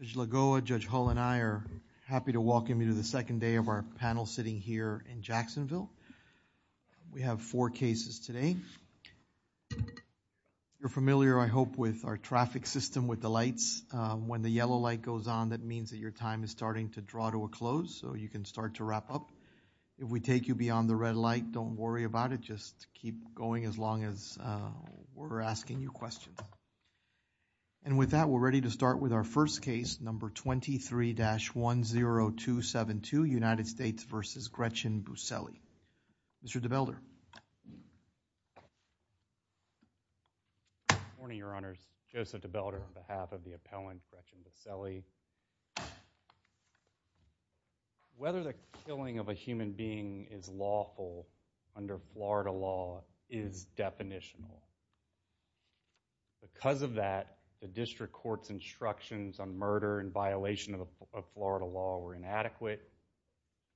Judge Lagoa, Judge Hull, and I are happy to welcome you to the second day of our panel sitting here in Jacksonville. We have four cases today. You're familiar, I hope, with our traffic system with the lights. When the yellow light goes on, that means that your time is starting to draw to a close, so you can start to wrap up. If we take you beyond the red light, don't worry about it. Just keep going as long as we're asking you questions. And with that, we're ready to start with our first case, number 23-10272, United States v. Gretchen Buselli. Mr. DeBelder. Good morning, Your Honors. Joseph DeBelder on behalf of the appellant, Gretchen Buselli. Whether the killing of a human being is lawful under Florida law is definitional. Because of that, the district court's instructions on murder in violation of Florida law were inadequate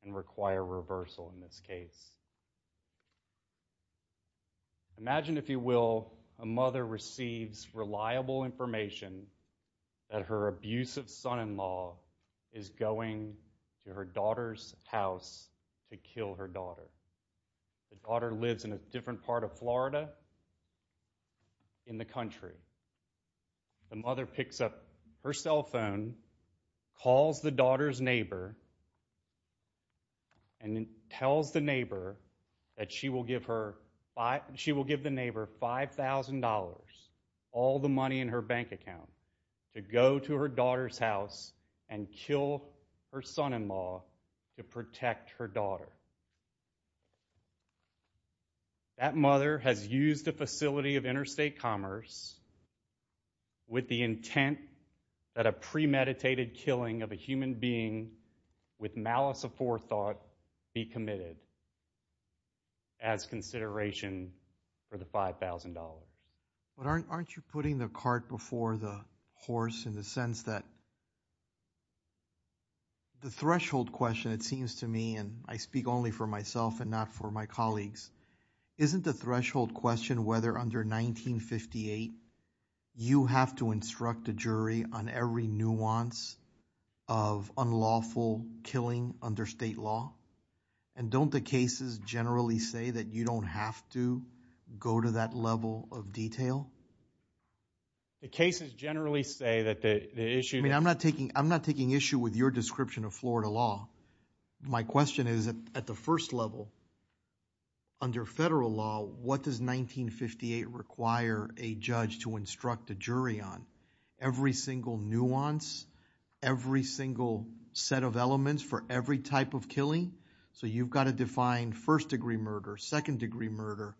and require reversal in this case. Imagine, if a mother receives reliable information that her abusive son-in-law is going to her daughter's house to kill her daughter. The daughter lives in a different part of Florida in the country. The mother picks up her cell phone, calls the daughter's neighbor, and tells the neighbor that she will give the neighbor $5,000, all the money in her bank account, to go to her daughter's house and kill her son-in-law to protect her daughter. That mother has used a facility of interstate commerce with the intent that a premeditated killing of a human being with malice of forethought be committed as consideration for the $5,000. But aren't you putting the cart before the horse in the sense that the threshold question, it seems to me, and I speak only for myself and not for my colleagues, isn't the threshold question whether under 1958, you have to instruct a jury on every nuance of unlawful killing under state law? And don't the cases generally say that you don't have to go to that level of detail? The cases generally say that the issue- I mean, I'm not taking issue with your description of Florida law. My question is, at the first level, under federal law, what does 1958 require a judge to instruct a jury on? Every single nuance, every single set of elements for every type of killing? So you've got to define first-degree murder, second-degree murder,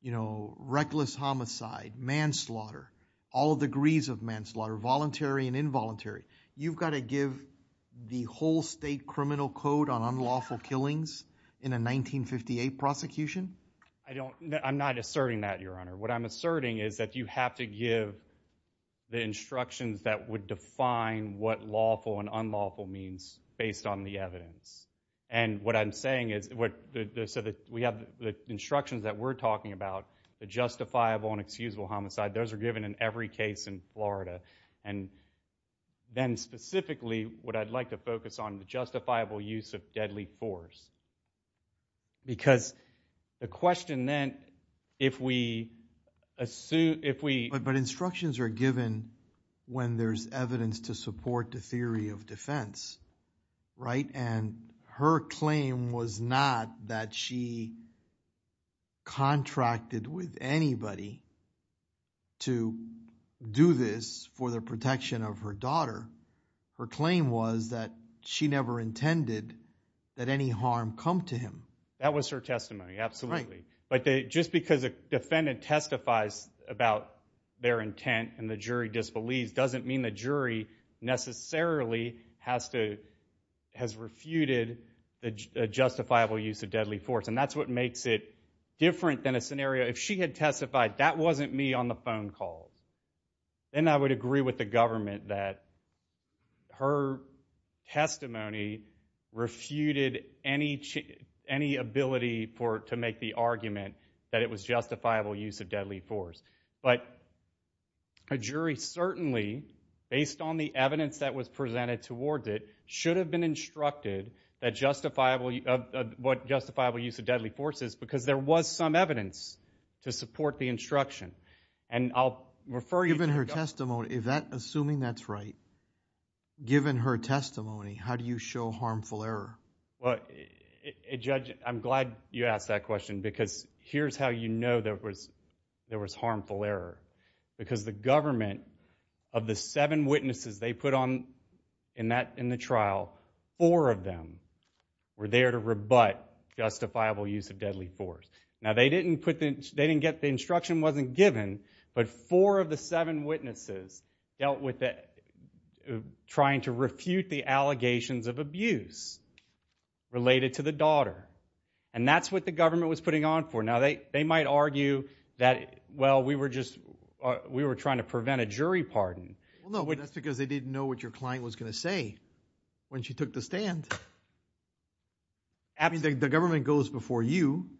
you know, reckless homicide, manslaughter, all degrees of manslaughter, voluntary and involuntary. You've got to give the whole state criminal code on unlawful killings in a 1958 prosecution? I don't- I'm not asserting that, Your Honor. What I'm asserting is that you have to give the instructions that would define what lawful and unlawful means based on the evidence. And what I'm saying is- so we have the instructions that we're talking about, the justifiable and excusable homicide, those are given in every case in Florida. And then specifically, what I'd like to focus on, the justifiable use of deadly force. Because the question then, if we assume- But instructions are given when there's evidence to support the theory of defense, right? And her claim was not that she contracted with anybody to do this for the protection of her client. Her claim was that she never intended that any harm come to him. That was her testimony, absolutely. Right. But just because a defendant testifies about their intent and the jury disbelieves doesn't mean the jury necessarily has to- has refuted the justifiable use of deadly force. And that's what makes it different than a scenario. If she had testified, that wasn't me on the phone calls, then I would agree with the government that her testimony refuted any ability for- to make the argument that it was justifiable use of deadly force. But a jury certainly, based on the evidence that was presented towards it, should have been instructed that justifiable- what justifiable use of deadly force is because there was some evidence to support the instruction. And I'll refer you to- Given her testimony, if that- assuming that's right, given her testimony, how do you show harmful error? Well, Judge, I'm glad you asked that question because here's how you know there was harmful error. Because the government, of the seven witnesses they put on- in the trial, four of them were there to rebut justifiable use of deadly force. Now, they didn't put the- they didn't get- the instruction wasn't given, but four of the seven witnesses dealt with the- trying to refute the allegations of abuse related to the daughter. And that's what the government was putting on for. Now, they might argue that, well, we were just- we were trying to prevent a jury pardon. Well, no, but that's because they didn't know what your client was going to say when she took the stand. I mean, the government goes before you,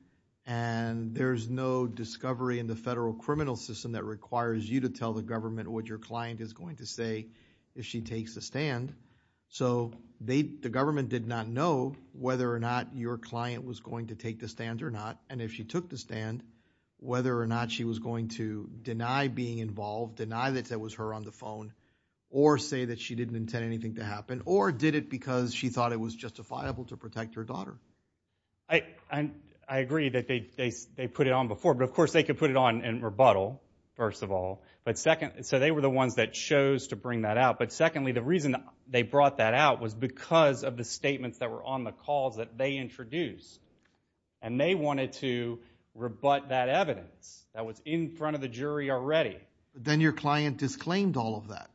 and there's no discovery in the federal criminal system that requires you to tell the government what your client is going to say if she takes a stand. So, they- the government did not know whether or not your client was going to take the stand or not, and if she took the stand, whether or not she was going to deny being involved, deny that it was her on the phone, or say that she didn't intend anything to happen, or did it because she thought it was justifiable to protect her daughter. I- I agree that they- they put it on before, but of course, they could put it on in rebuttal, first of all. But second- so, they were the ones that chose to bring that out. But secondly, the reason they brought that out was because of the statements that were on the calls that they introduced, and they wanted to rebut that evidence that was in front of the jury already. But then your client disclaimed all of that.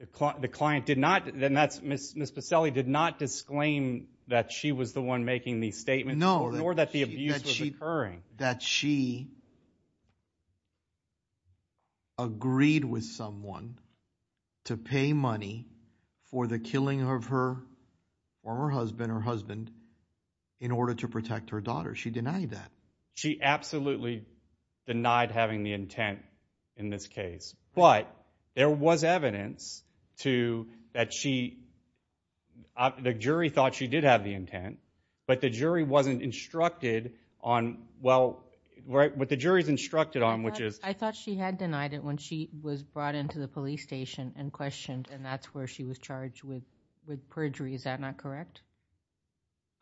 The client- the client did not- and that's- Ms. Pacelli did not disclaim that she was the one making these statements. No. Nor that the abuse was occurring. That she agreed with someone to pay money for the killing of her former husband or husband in order to protect her daughter. She denied that. She absolutely denied having the intent in this case. But there was evidence to- that she- the jury thought she did have the intent, but the jury wasn't instructed on- well, what the jury's instructed on, which is- I thought- I thought she had denied it when she was brought into the police station and questioned, and that's where she was charged with- with perjury. Is that not correct?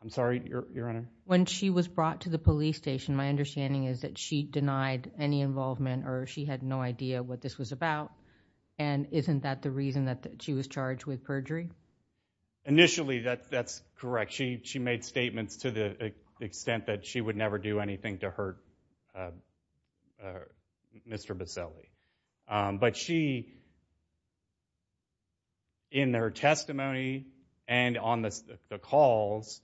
I'm sorry, Your Honor? When she was brought to the police station, my understanding is that she denied any involvement or she had no idea what this was about, and isn't that the reason that she was charged with perjury? Initially, that's correct. She made statements to the extent that she would never do anything to hurt Mr. Buscelli. But she, in her testimony and on the calls,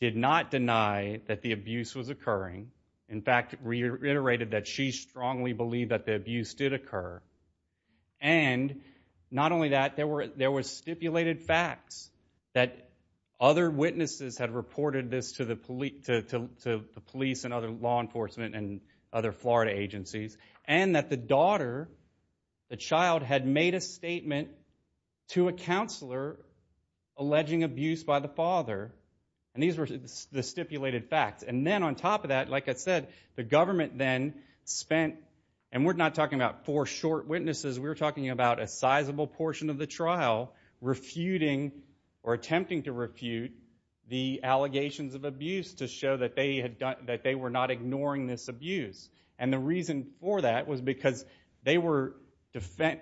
did not deny that the abuse was occurring. In fact, reiterated that she strongly believed that the abuse did occur. And not only that, there were- there were stipulated facts that other witnesses had reported this to the police and other law enforcement and other Florida agencies, and that the daughter, the child, had made a statement to a counselor alleging abuse by the father. And these were the stipulated facts. And then on top of that, like I said, the government then spent- and we're not talking about four short witnesses, we're talking about a sizable portion of the trial refuting or attempting to refute the allegations of abuse to show that they had done- that they were not ignoring this abuse. And the reason for that was because they were-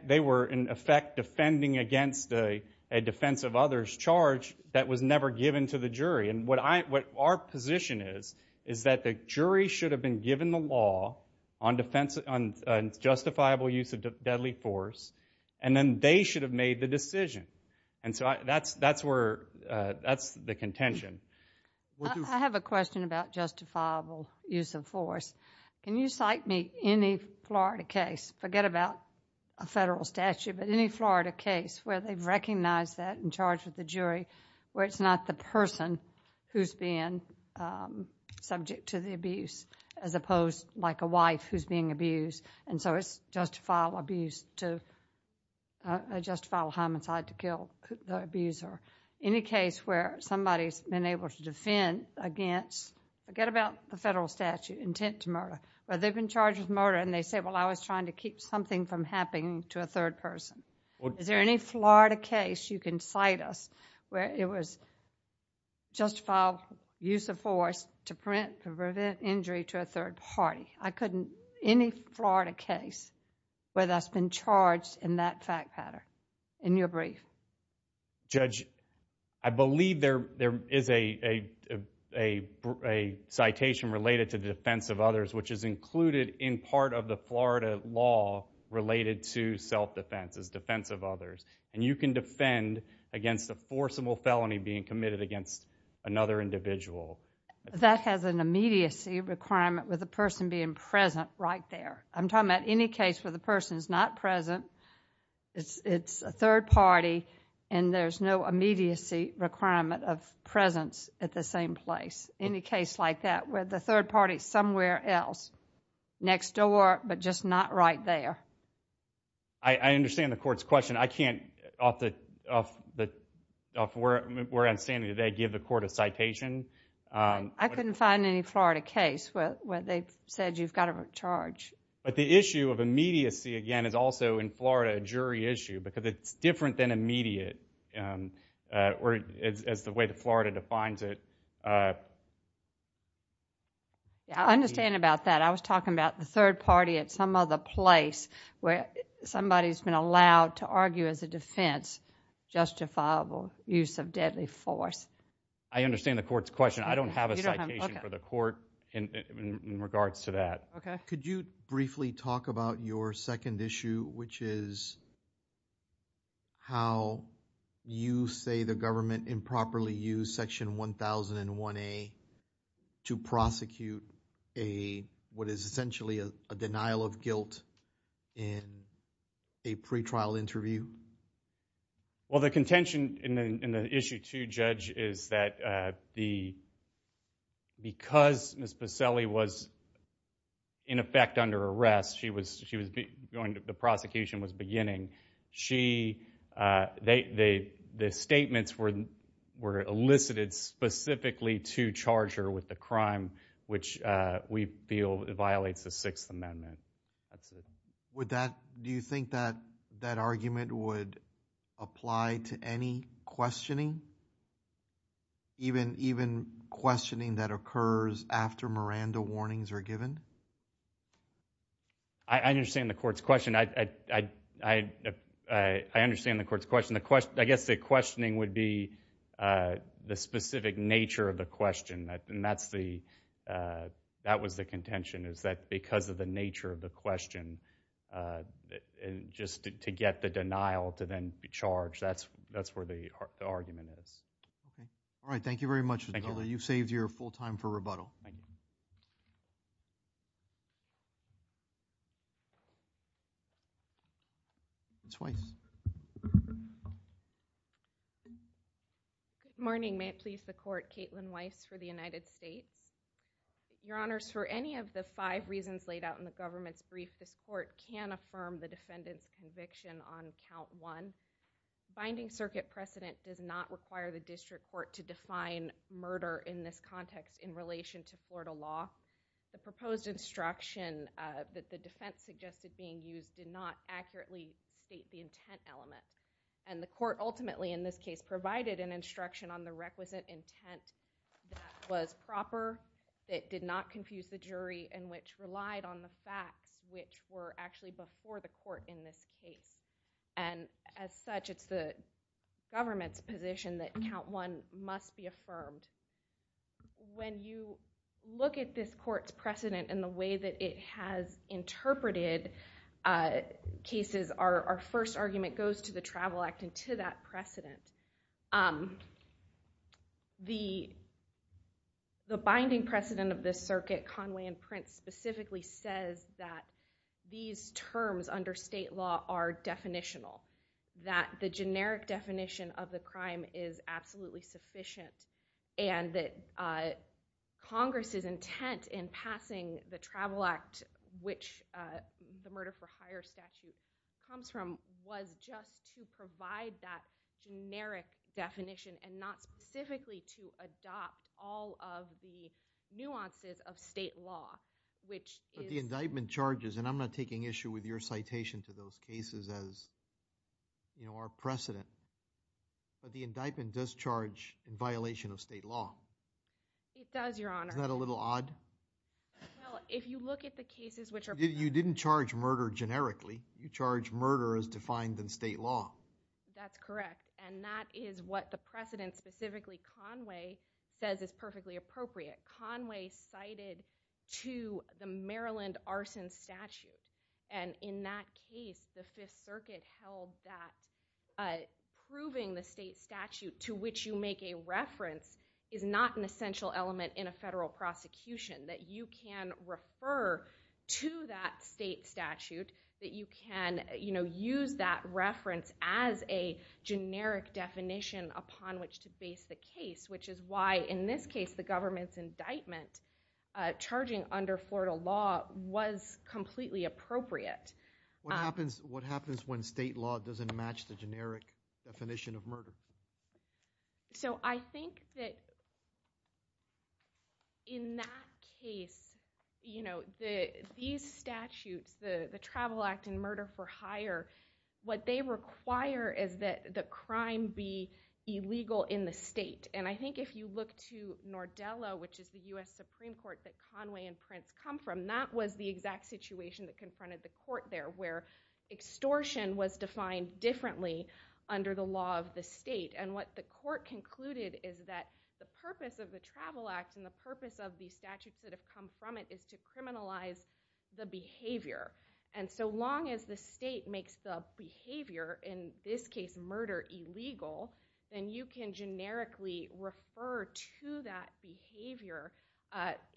they were, in effect, defending against a defense of others charge that was never given to the jury. And what I- what our position is, is that the jury should have been given the law on defense- on justifiable use of deadly force, and then they should have made the decision. And so that's- that's where- that's the contention. I have a question about justifiable use of force. Can you cite me any Florida case, forget about a federal statute, but any Florida case where they've recognized that and charged with the jury, where it's not the person who's being subject to the abuse, as opposed like a wife who's being abused, and so it's justifiable abuse to- a justifiable homicide to kill the abuser. Any case where somebody's been able to defend against- forget about the federal statute, intent to murder, where they've been charged with murder and they say, well, I was trying to keep something from happening to a third person. Is there any Florida case you can cite us where it was justifiable use of force to prevent- to prevent injury to a third party? I couldn't- any Florida case where that's been charged in that fact pattern, in your brief. Judge, I believe there- there is a- a- a citation related to the defense of others, which is that you can defend against a forcible felony being committed against another individual. That has an immediacy requirement with the person being present right there. I'm talking about any case where the person's not present, it's- it's a third party, and there's no immediacy requirement of presence at the same place. Any case like that where the third party's somewhere else, next door, but just not right there. I- I understand the court's question. I can't, off the- off the- off where I'm standing today, give the court a citation. I couldn't find any Florida case where- where they've said you've got to charge. But the issue of immediacy, again, is also in Florida a jury issue, because it's different than immediate, or as- as the way that Florida defines it. Yeah, I understand about that. I was talking about the third party at some other place where somebody's been allowed to argue as a defense justifiable use of deadly force. I understand the court's question. I don't have a citation for the court in- in regards to that. Okay. Could you briefly talk about your second issue, which is how you say the government improperly used Section 1001A to prosecute a- what is essentially a- a denial of guilt in a pre-trial interview? Well, the contention in the- in the issue, too, Judge, is that the- because Ms. Buscelli was, in effect, under arrest, she was- she was going to- the prosecution was beginning, she- they- they- the statements were- were elicited specifically to charge her with the crime, which we feel violates the Sixth Amendment. That's it. Would that- do you think that- that argument would apply to any questioning? Even- even questioning that occurs after Miranda warnings are given? I- I understand the court's question. I- I- I- I understand the court's question. The question- I guess the questioning would be the specific nature of the question. And that's the- that was the contention, is that because of the nature of the question, just to get the denial to then be charged, that's- that's where the argument is. Okay. All right. Thank you very much. Thank you. Thank you. Ms. Weiss. Ms. Weiss. Good morning. May it please the court, Caitlin Weiss for the United States. Your Honors, for any of the five reasons laid out in the government's brief, this court can affirm the defendant's conviction on count one. Binding circuit precedent does not require the district court to define murder in this particular law. The proposed instruction that the defense suggested being used did not accurately state the intent element. And the court ultimately, in this case, provided an instruction on the requisite intent that was proper, that did not confuse the jury, and which relied on the facts which were actually before the court in this case. And as such, it's the government's position that count one must be affirmed. When you look at this court's precedent and the way that it has interpreted cases, our first argument goes to the Travel Act and to that precedent. The binding precedent of this circuit, Conway and Prince, specifically says that these terms under state law are definitional, that the generic definition of the crime is absolutely sufficient, and that Congress's intent in passing the Travel Act, which the murder for hire statute comes from, was just to provide that generic definition and not specifically to adopt all of the nuances of state law, which is... But the indictment charges, and I'm not taking issue with your citation to those cases as our precedent, but the indictment does charge in violation of state law. It does, Your Honor. Isn't that a little odd? Well, if you look at the cases which are... You didn't charge murder generically. You charged murder as defined in state law. That's correct. And that is what the precedent, specifically Conway, says is perfectly appropriate. Conway cited to the Maryland arson statute. And in that case, the Fifth Circuit held that proving the state statute to which you make a reference is not an essential element in a federal prosecution, that you can refer to that state statute, that you can use that reference as a generic definition upon which to base the case, which is why, in this case, the government's indictment charging under Florida law was completely appropriate. What happens when state law doesn't match the generic definition of murder? So I think that in that case, these statutes, the Travel Act and murder for hire, what they And I think if you look to Nordella, which is the U.S. Supreme Court that Conway and Prince come from, that was the exact situation that confronted the court there, where extortion was defined differently under the law of the state. And what the court concluded is that the purpose of the Travel Act and the purpose of the statutes that have come from it is to criminalize the behavior. And so long as the state makes the behavior, in this case, murder illegal, then you can generically refer to that behavior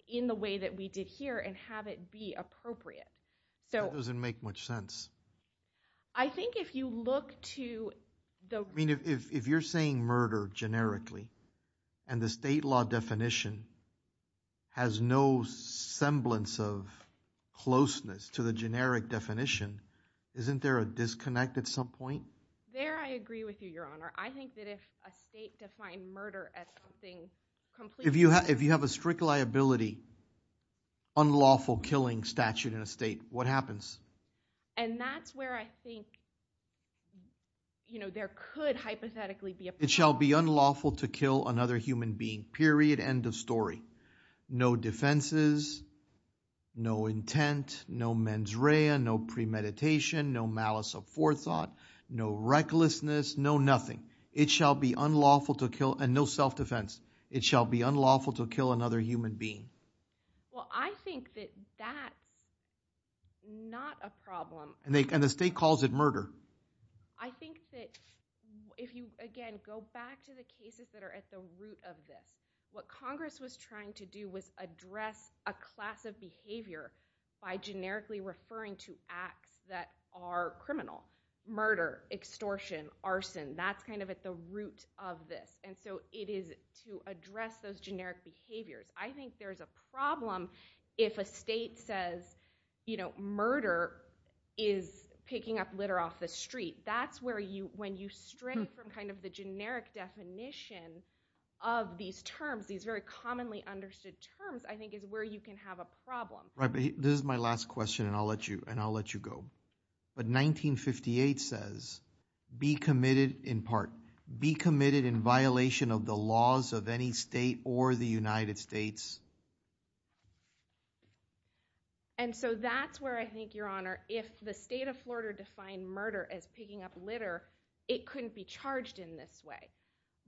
in the way that we did here and have it be appropriate. That doesn't make much sense. I think if you look to the I mean, if you're saying murder generically and the state law definition has no semblance of closeness to the generic definition, isn't there a disconnect at some point? There, I agree with you, Your Honor. I think that if a state defined murder as something completely If you have a strict liability, unlawful killing statute in a state, what happens? And that's where I think, you know, there could hypothetically be a It shall be unlawful to kill another human being, period. End of story. No defenses, no intent, no mens rea, no premeditation, no malice of forethought, no recklessness, no nothing. It shall be unlawful to kill and no self-defense. It shall be unlawful to kill another human being. Well, I think that that's not a problem. And the state calls it murder. I think that if you, again, go back to the cases that are at the root of this, what Congress was trying to do was address a class of behavior by generically referring to acts that are criminal. Murder, extortion, arson, that's kind of at the root of this. And so it is to address those generic behaviors. I think there's a problem if a state says, you know, murder is picking up litter off the street. That's where you, when you stray from kind of the generic definition of these terms, these very commonly understood terms, I think is where you can have a problem. Right, but this is my last question and I'll let you go. But 1958 says, be committed in part, be committed in violation of the laws of any state or the United States. And so that's where I think, Your Honor, if the state of Florida defined murder as picking up litter, it couldn't be charged in this way.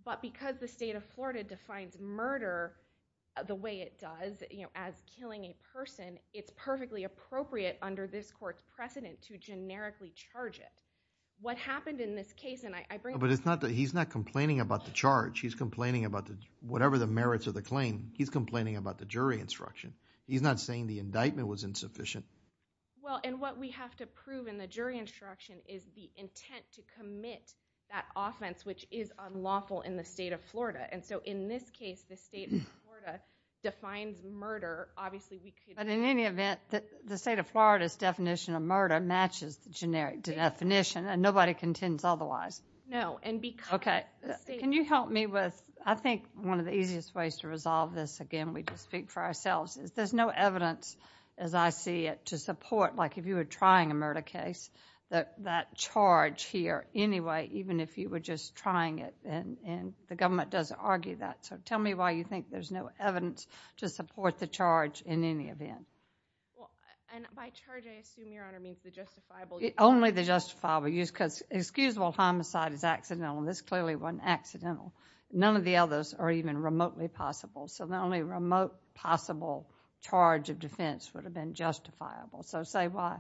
But because the state of Florida defines murder the way it does, you know, as killing a person, it's perfectly appropriate under this court's precedent to generically charge it. What happened in this case, and I bring it up. But he's not complaining about the charge. He's complaining about whatever the merits of the claim. He's complaining about the jury instruction. He's not saying the indictment was insufficient. Well, and what we have to prove in the jury instruction is the intent to commit that offense, which is unlawful in the state of Florida. And so in this case, the state of Florida defines murder. Obviously, we could... But in any event, the state of Florida's definition of murder matches the generic definition and nobody contends otherwise. No, and because... Okay, can you help me with, I think one of the easiest ways to resolve this, again, we can speak for ourselves, is there's no evidence as I see it to support, like if you were trying a murder case, that charge here anyway, even if you were just trying it. And the government doesn't argue that. So tell me why you think there's no evidence to support the charge in any event. Well, and by charge, I assume, Your Honor, means the justifiable use. Only the justifiable use because excusable homicide is accidental, and this clearly wasn't accidental. None of the others are even remotely possible. So the only remote possible charge of defense would have been justifiable. So say why.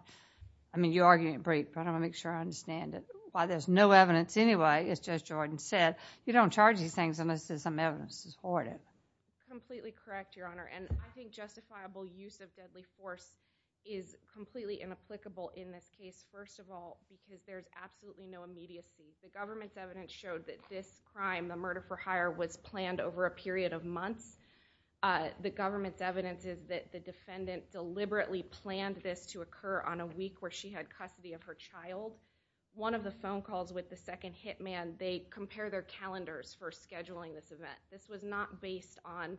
I mean, you're arguing it brief, but I want to make sure I understand it. Why there's no evidence anyway, as Judge Jordan said. You don't charge these things unless there's some evidence to support it. Completely correct, Your Honor. And I think justifiable use of deadly force is completely inapplicable in this case, first of all, because there's absolutely no immediacy. The government's evidence showed that this crime, the murder for hire, was planned over a period of months. The government's evidence is that the defendant deliberately planned this to occur on a week where she had custody of her child. One of the phone calls with the second hit man, they compare their calendars for scheduling this event. This was not based on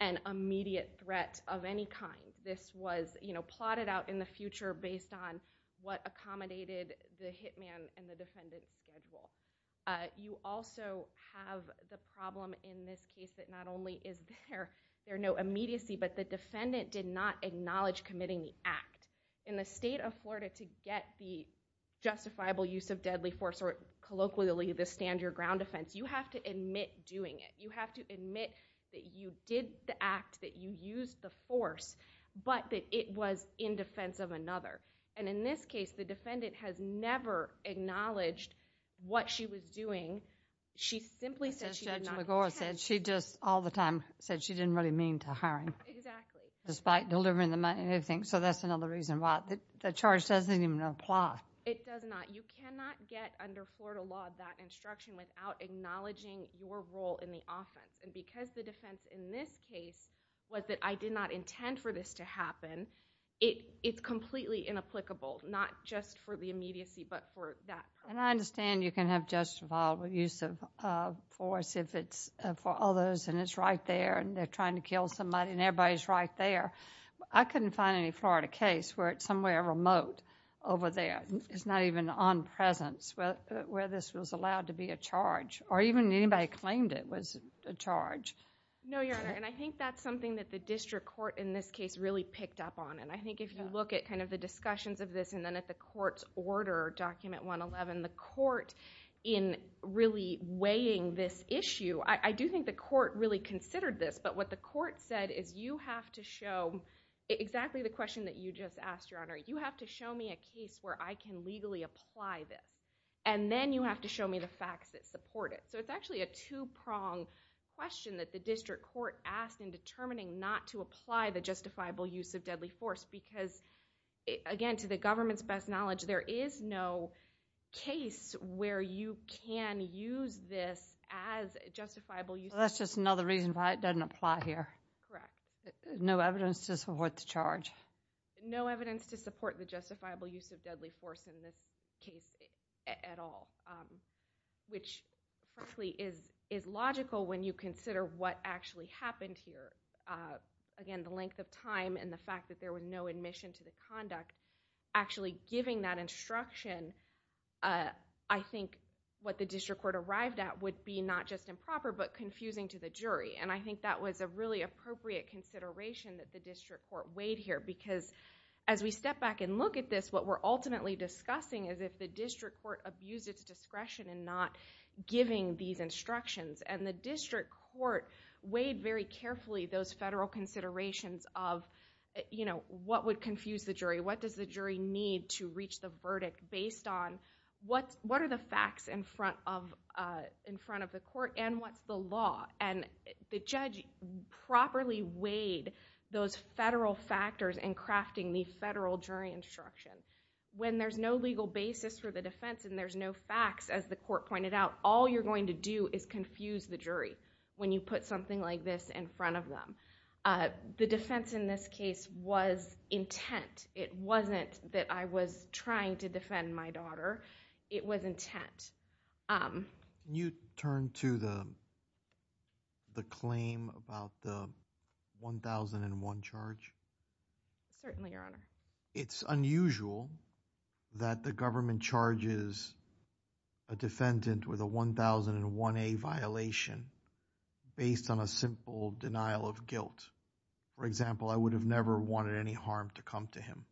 an immediate threat of any kind. This was plotted out in the future based on what accommodated the hit man and the defendant's schedule. You also have the problem in this case that not only is there no immediacy, but the defendant did not acknowledge committing the act. In the state of Florida, to get the justifiable use of deadly force or colloquially the stand-your-ground offense, you have to admit doing it. You have to admit that you did the act, that you used the force, but that it was in defense of another. And in this case, the defendant has never acknowledged what she was doing. She simply said she did not intend. As Judge McGor said, she just all the time said she didn't really mean to hire him. Exactly. Despite delivering the money and everything. So that's another reason why the charge doesn't even apply. It does not. You cannot get under Florida law that instruction without acknowledging your role in the offense. And because the defense in this case was that I did not intend for this to happen, it's completely inapplicable, not just for the immediacy, but for that purpose. And I understand you can have justifiable use of force if it's for others and it's right there and they're trying to kill somebody and everybody's right there. I couldn't find any Florida case where it's somewhere remote over there. It's not even on presence where this was allowed to be a charge or even anybody claimed it was a charge. No, Your Honor, and I think that's something that the district court in this case really picked up on. And I think if you look at kind of the discussions of this and then at the court's order, Document 111, and the court in really weighing this issue, I do think the court really considered this. But what the court said is you have to show exactly the question that you just asked, Your Honor. You have to show me a case where I can legally apply this. And then you have to show me the facts that support it. So it's actually a two-prong question that the district court asked in determining not to apply the justifiable use of deadly force because, again, to the government's best knowledge, there is no case where you can use this as justifiable use. Well, that's just another reason why it doesn't apply here. Correct. No evidence to support the charge. No evidence to support the justifiable use of deadly force in this case at all, which, frankly, is logical when you consider what actually happened here. Again, the length of time and the fact that there was no admission to the conduct actually giving that instruction, I think what the district court arrived at would be not just improper but confusing to the jury. And I think that was a really appropriate consideration that the district court weighed here because as we step back and look at this, what we're ultimately discussing is if the district court abused its discretion in not giving these instructions. And the district court weighed very carefully those federal considerations of, you know, what would confuse the jury? What does the jury need to reach the verdict based on what are the facts in front of the court and what's the law? And the judge properly weighed those federal factors in crafting the federal jury instruction. When there's no legal basis for the defense and there's no facts, as the court pointed out, all you're going to do is confuse the jury when you put something like this in front of them. The defense in this case was intent. It wasn't that I was trying to defend my daughter. It was intent. Can you turn to the claim about the 1001 charge? Certainly, Your Honor. It's unusual that the government charges a defendant with a 1001A violation based on a simple denial of guilt. For example, I would have never wanted any harm to come to him.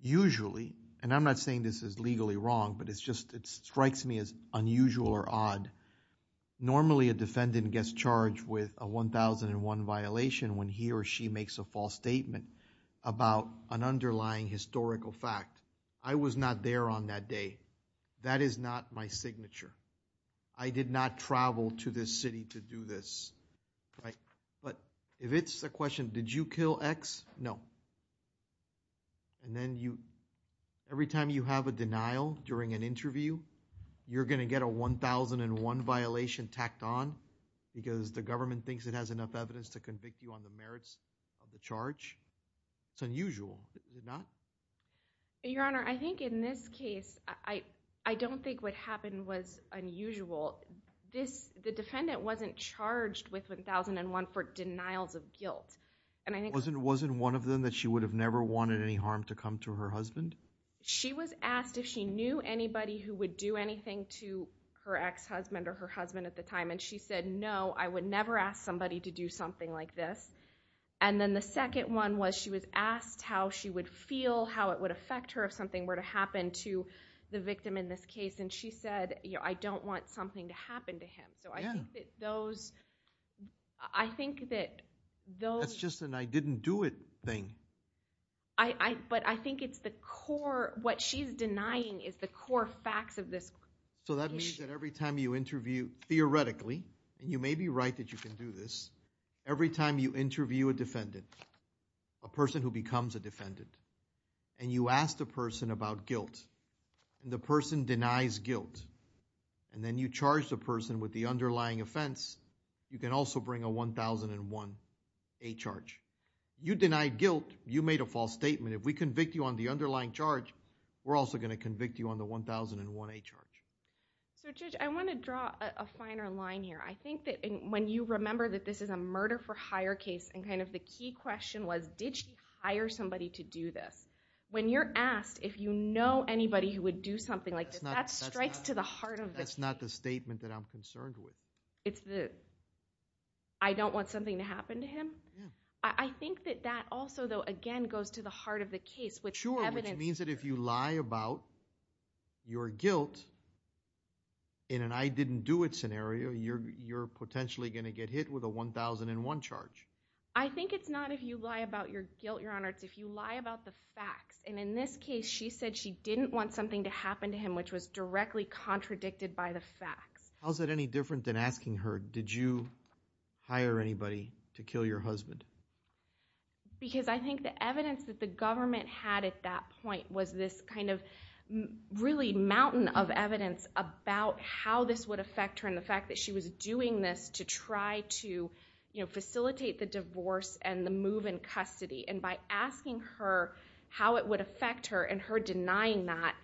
Usually, and I'm not saying this is legally wrong, but it strikes me as unusual or odd, normally a defendant gets charged with a 1001 violation when he or she makes a false statement about an underlying historical fact. I was not there on that day. That is not my signature. I did not travel to this city to do this. But if it's a question, did you kill X? No. And then every time you have a denial during an interview, you're going to get a 1001 violation tacked on because the government thinks it has enough evidence to convict you on the merits of the charge. It's unusual, is it not? Your Honor, I think in this case, I don't think what happened was unusual. The defendant wasn't charged with 1001 for denials of guilt. Wasn't it one of them that she would have never wanted any harm to come to her husband? She was asked if she knew anybody who would do anything to her ex-husband or her husband at the time, and she said, no, I would never ask somebody to do something like this. And then the second one was she was asked how she would feel, how it would affect her if something were to happen to the victim in this case, and she said, I don't want something to happen to him. So I think that those... That's just an I didn't do it thing. But I think it's the core, what she's denying is the core facts of this case. So that means that every time you interview, theoretically, every time you interview a defendant, a person who becomes a defendant, and you ask the person about guilt, and the person denies guilt, and then you charge the person with the underlying offense, you can also bring a 1001A charge. You denied guilt, you made a false statement. If we convict you on the underlying charge, we're also going to convict you on the 1001A charge. So, Judge, I want to draw a finer line here. I think that when you remember that this is a murder for hire case and kind of the key question was, did she hire somebody to do this? When you're asked if you know anybody who would do something like this, that strikes to the heart of the case. That's not the statement that I'm concerned with. It's the, I don't want something to happen to him? Yeah. I think that that also, though, again, goes to the heart of the case. Sure, which means that if you lie about your guilt in an I didn't do it scenario, you're potentially going to get hit with a 1001 charge. I think it's not if you lie about your guilt, Your Honor. It's if you lie about the facts. And in this case, she said she didn't want something to happen to him, which was directly contradicted by the facts. How is that any different than asking her, did you hire anybody to kill your husband? Because I think the evidence that the government had at that point was this kind of really mountain of evidence about how this would affect her and the fact that she was doing this to try to facilitate the divorce and the move in custody. And by asking her how it would affect her and her denying that,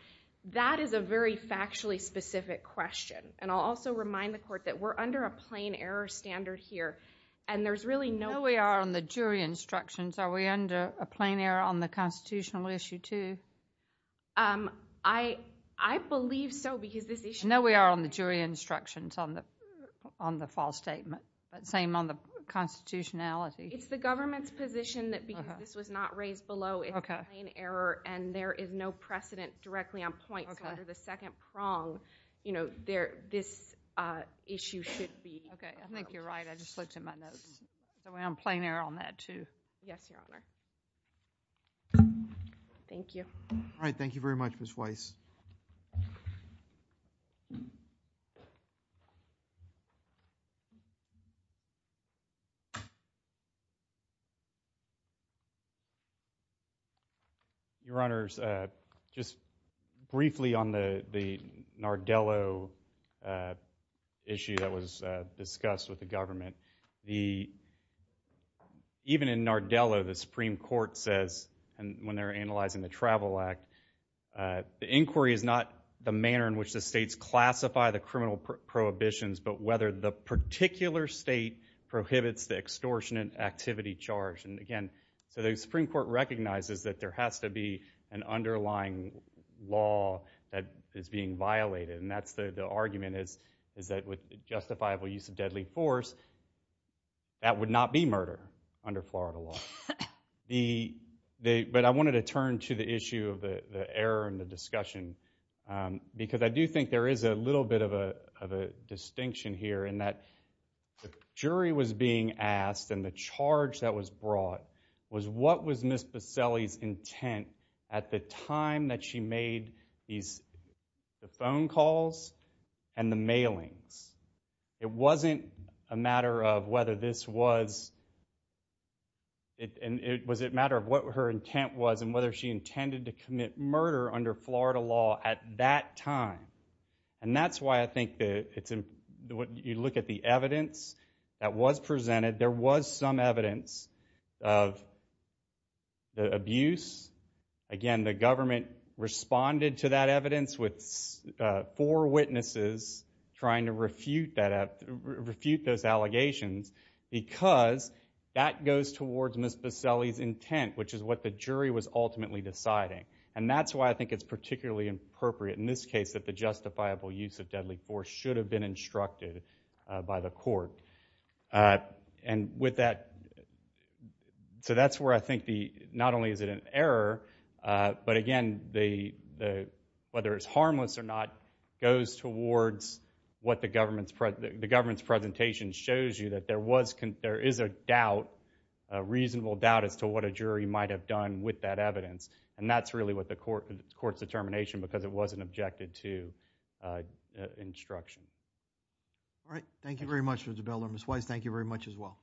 that is a very factually specific question. And I'll also remind the Court that we're under a plain error standard here. And there's really no— No, we are on the jury instructions. Are we under a plain error on the constitutional issue too? I believe so because this issue— No, we are on the jury instructions on the false statement. But same on the constitutionality. It's the government's position that because this was not raised below, it's a plain error and there is no precedent directly on point. So under the second prong, this issue should be— Okay, I think you're right. I just looked at my notes. So we're on plain error on that too. Yes, Your Honor. Thank you. All right, thank you very much, Ms. Weiss. Your Honors, just briefly on the Nardello issue that was discussed with the government, even in Nardello, the Supreme Court says, when they're analyzing the Travel Act, the inquiry is not the manner in which the states classify the criminal prohibitions, but whether the particular state prohibits the extortion and activity charge. And again, so the Supreme Court recognizes that there has to be an underlying law that is being violated. And that's the argument is that with justifiable use of deadly force, that would not be murder under Florida law. But I wanted to turn to the issue of the error in the discussion because I do think there is a little bit of a distinction here in that the jury was being asked and the charge that was brought was what was Ms. Buscelli's intent at the time that she made the phone calls and the mailings. It wasn't a matter of whether this was, was it a matter of what her intent was and whether she intended to commit murder under Florida law at that time. And that's why I think you look at the evidence that was presented, there was some evidence of the abuse. Again, the government responded to that evidence with four witnesses trying to refute those allegations because that goes towards Ms. Buscelli's intent, which is what the jury was ultimately deciding. And that's why I think it's particularly appropriate in this case that the justifiable use of deadly force should have been instructed by the court. And with that, so that's where I think not only is it an error, but again, whether it's harmless or not, goes towards what the government's presentation shows you, that there is a doubt, a reasonable doubt, as to what a jury might have done with that evidence. And that's really what the court's determination, because it wasn't objected to instruction. All right. Thank you very much, Mr. Bell or Ms. Weiss. Thank you very much as well.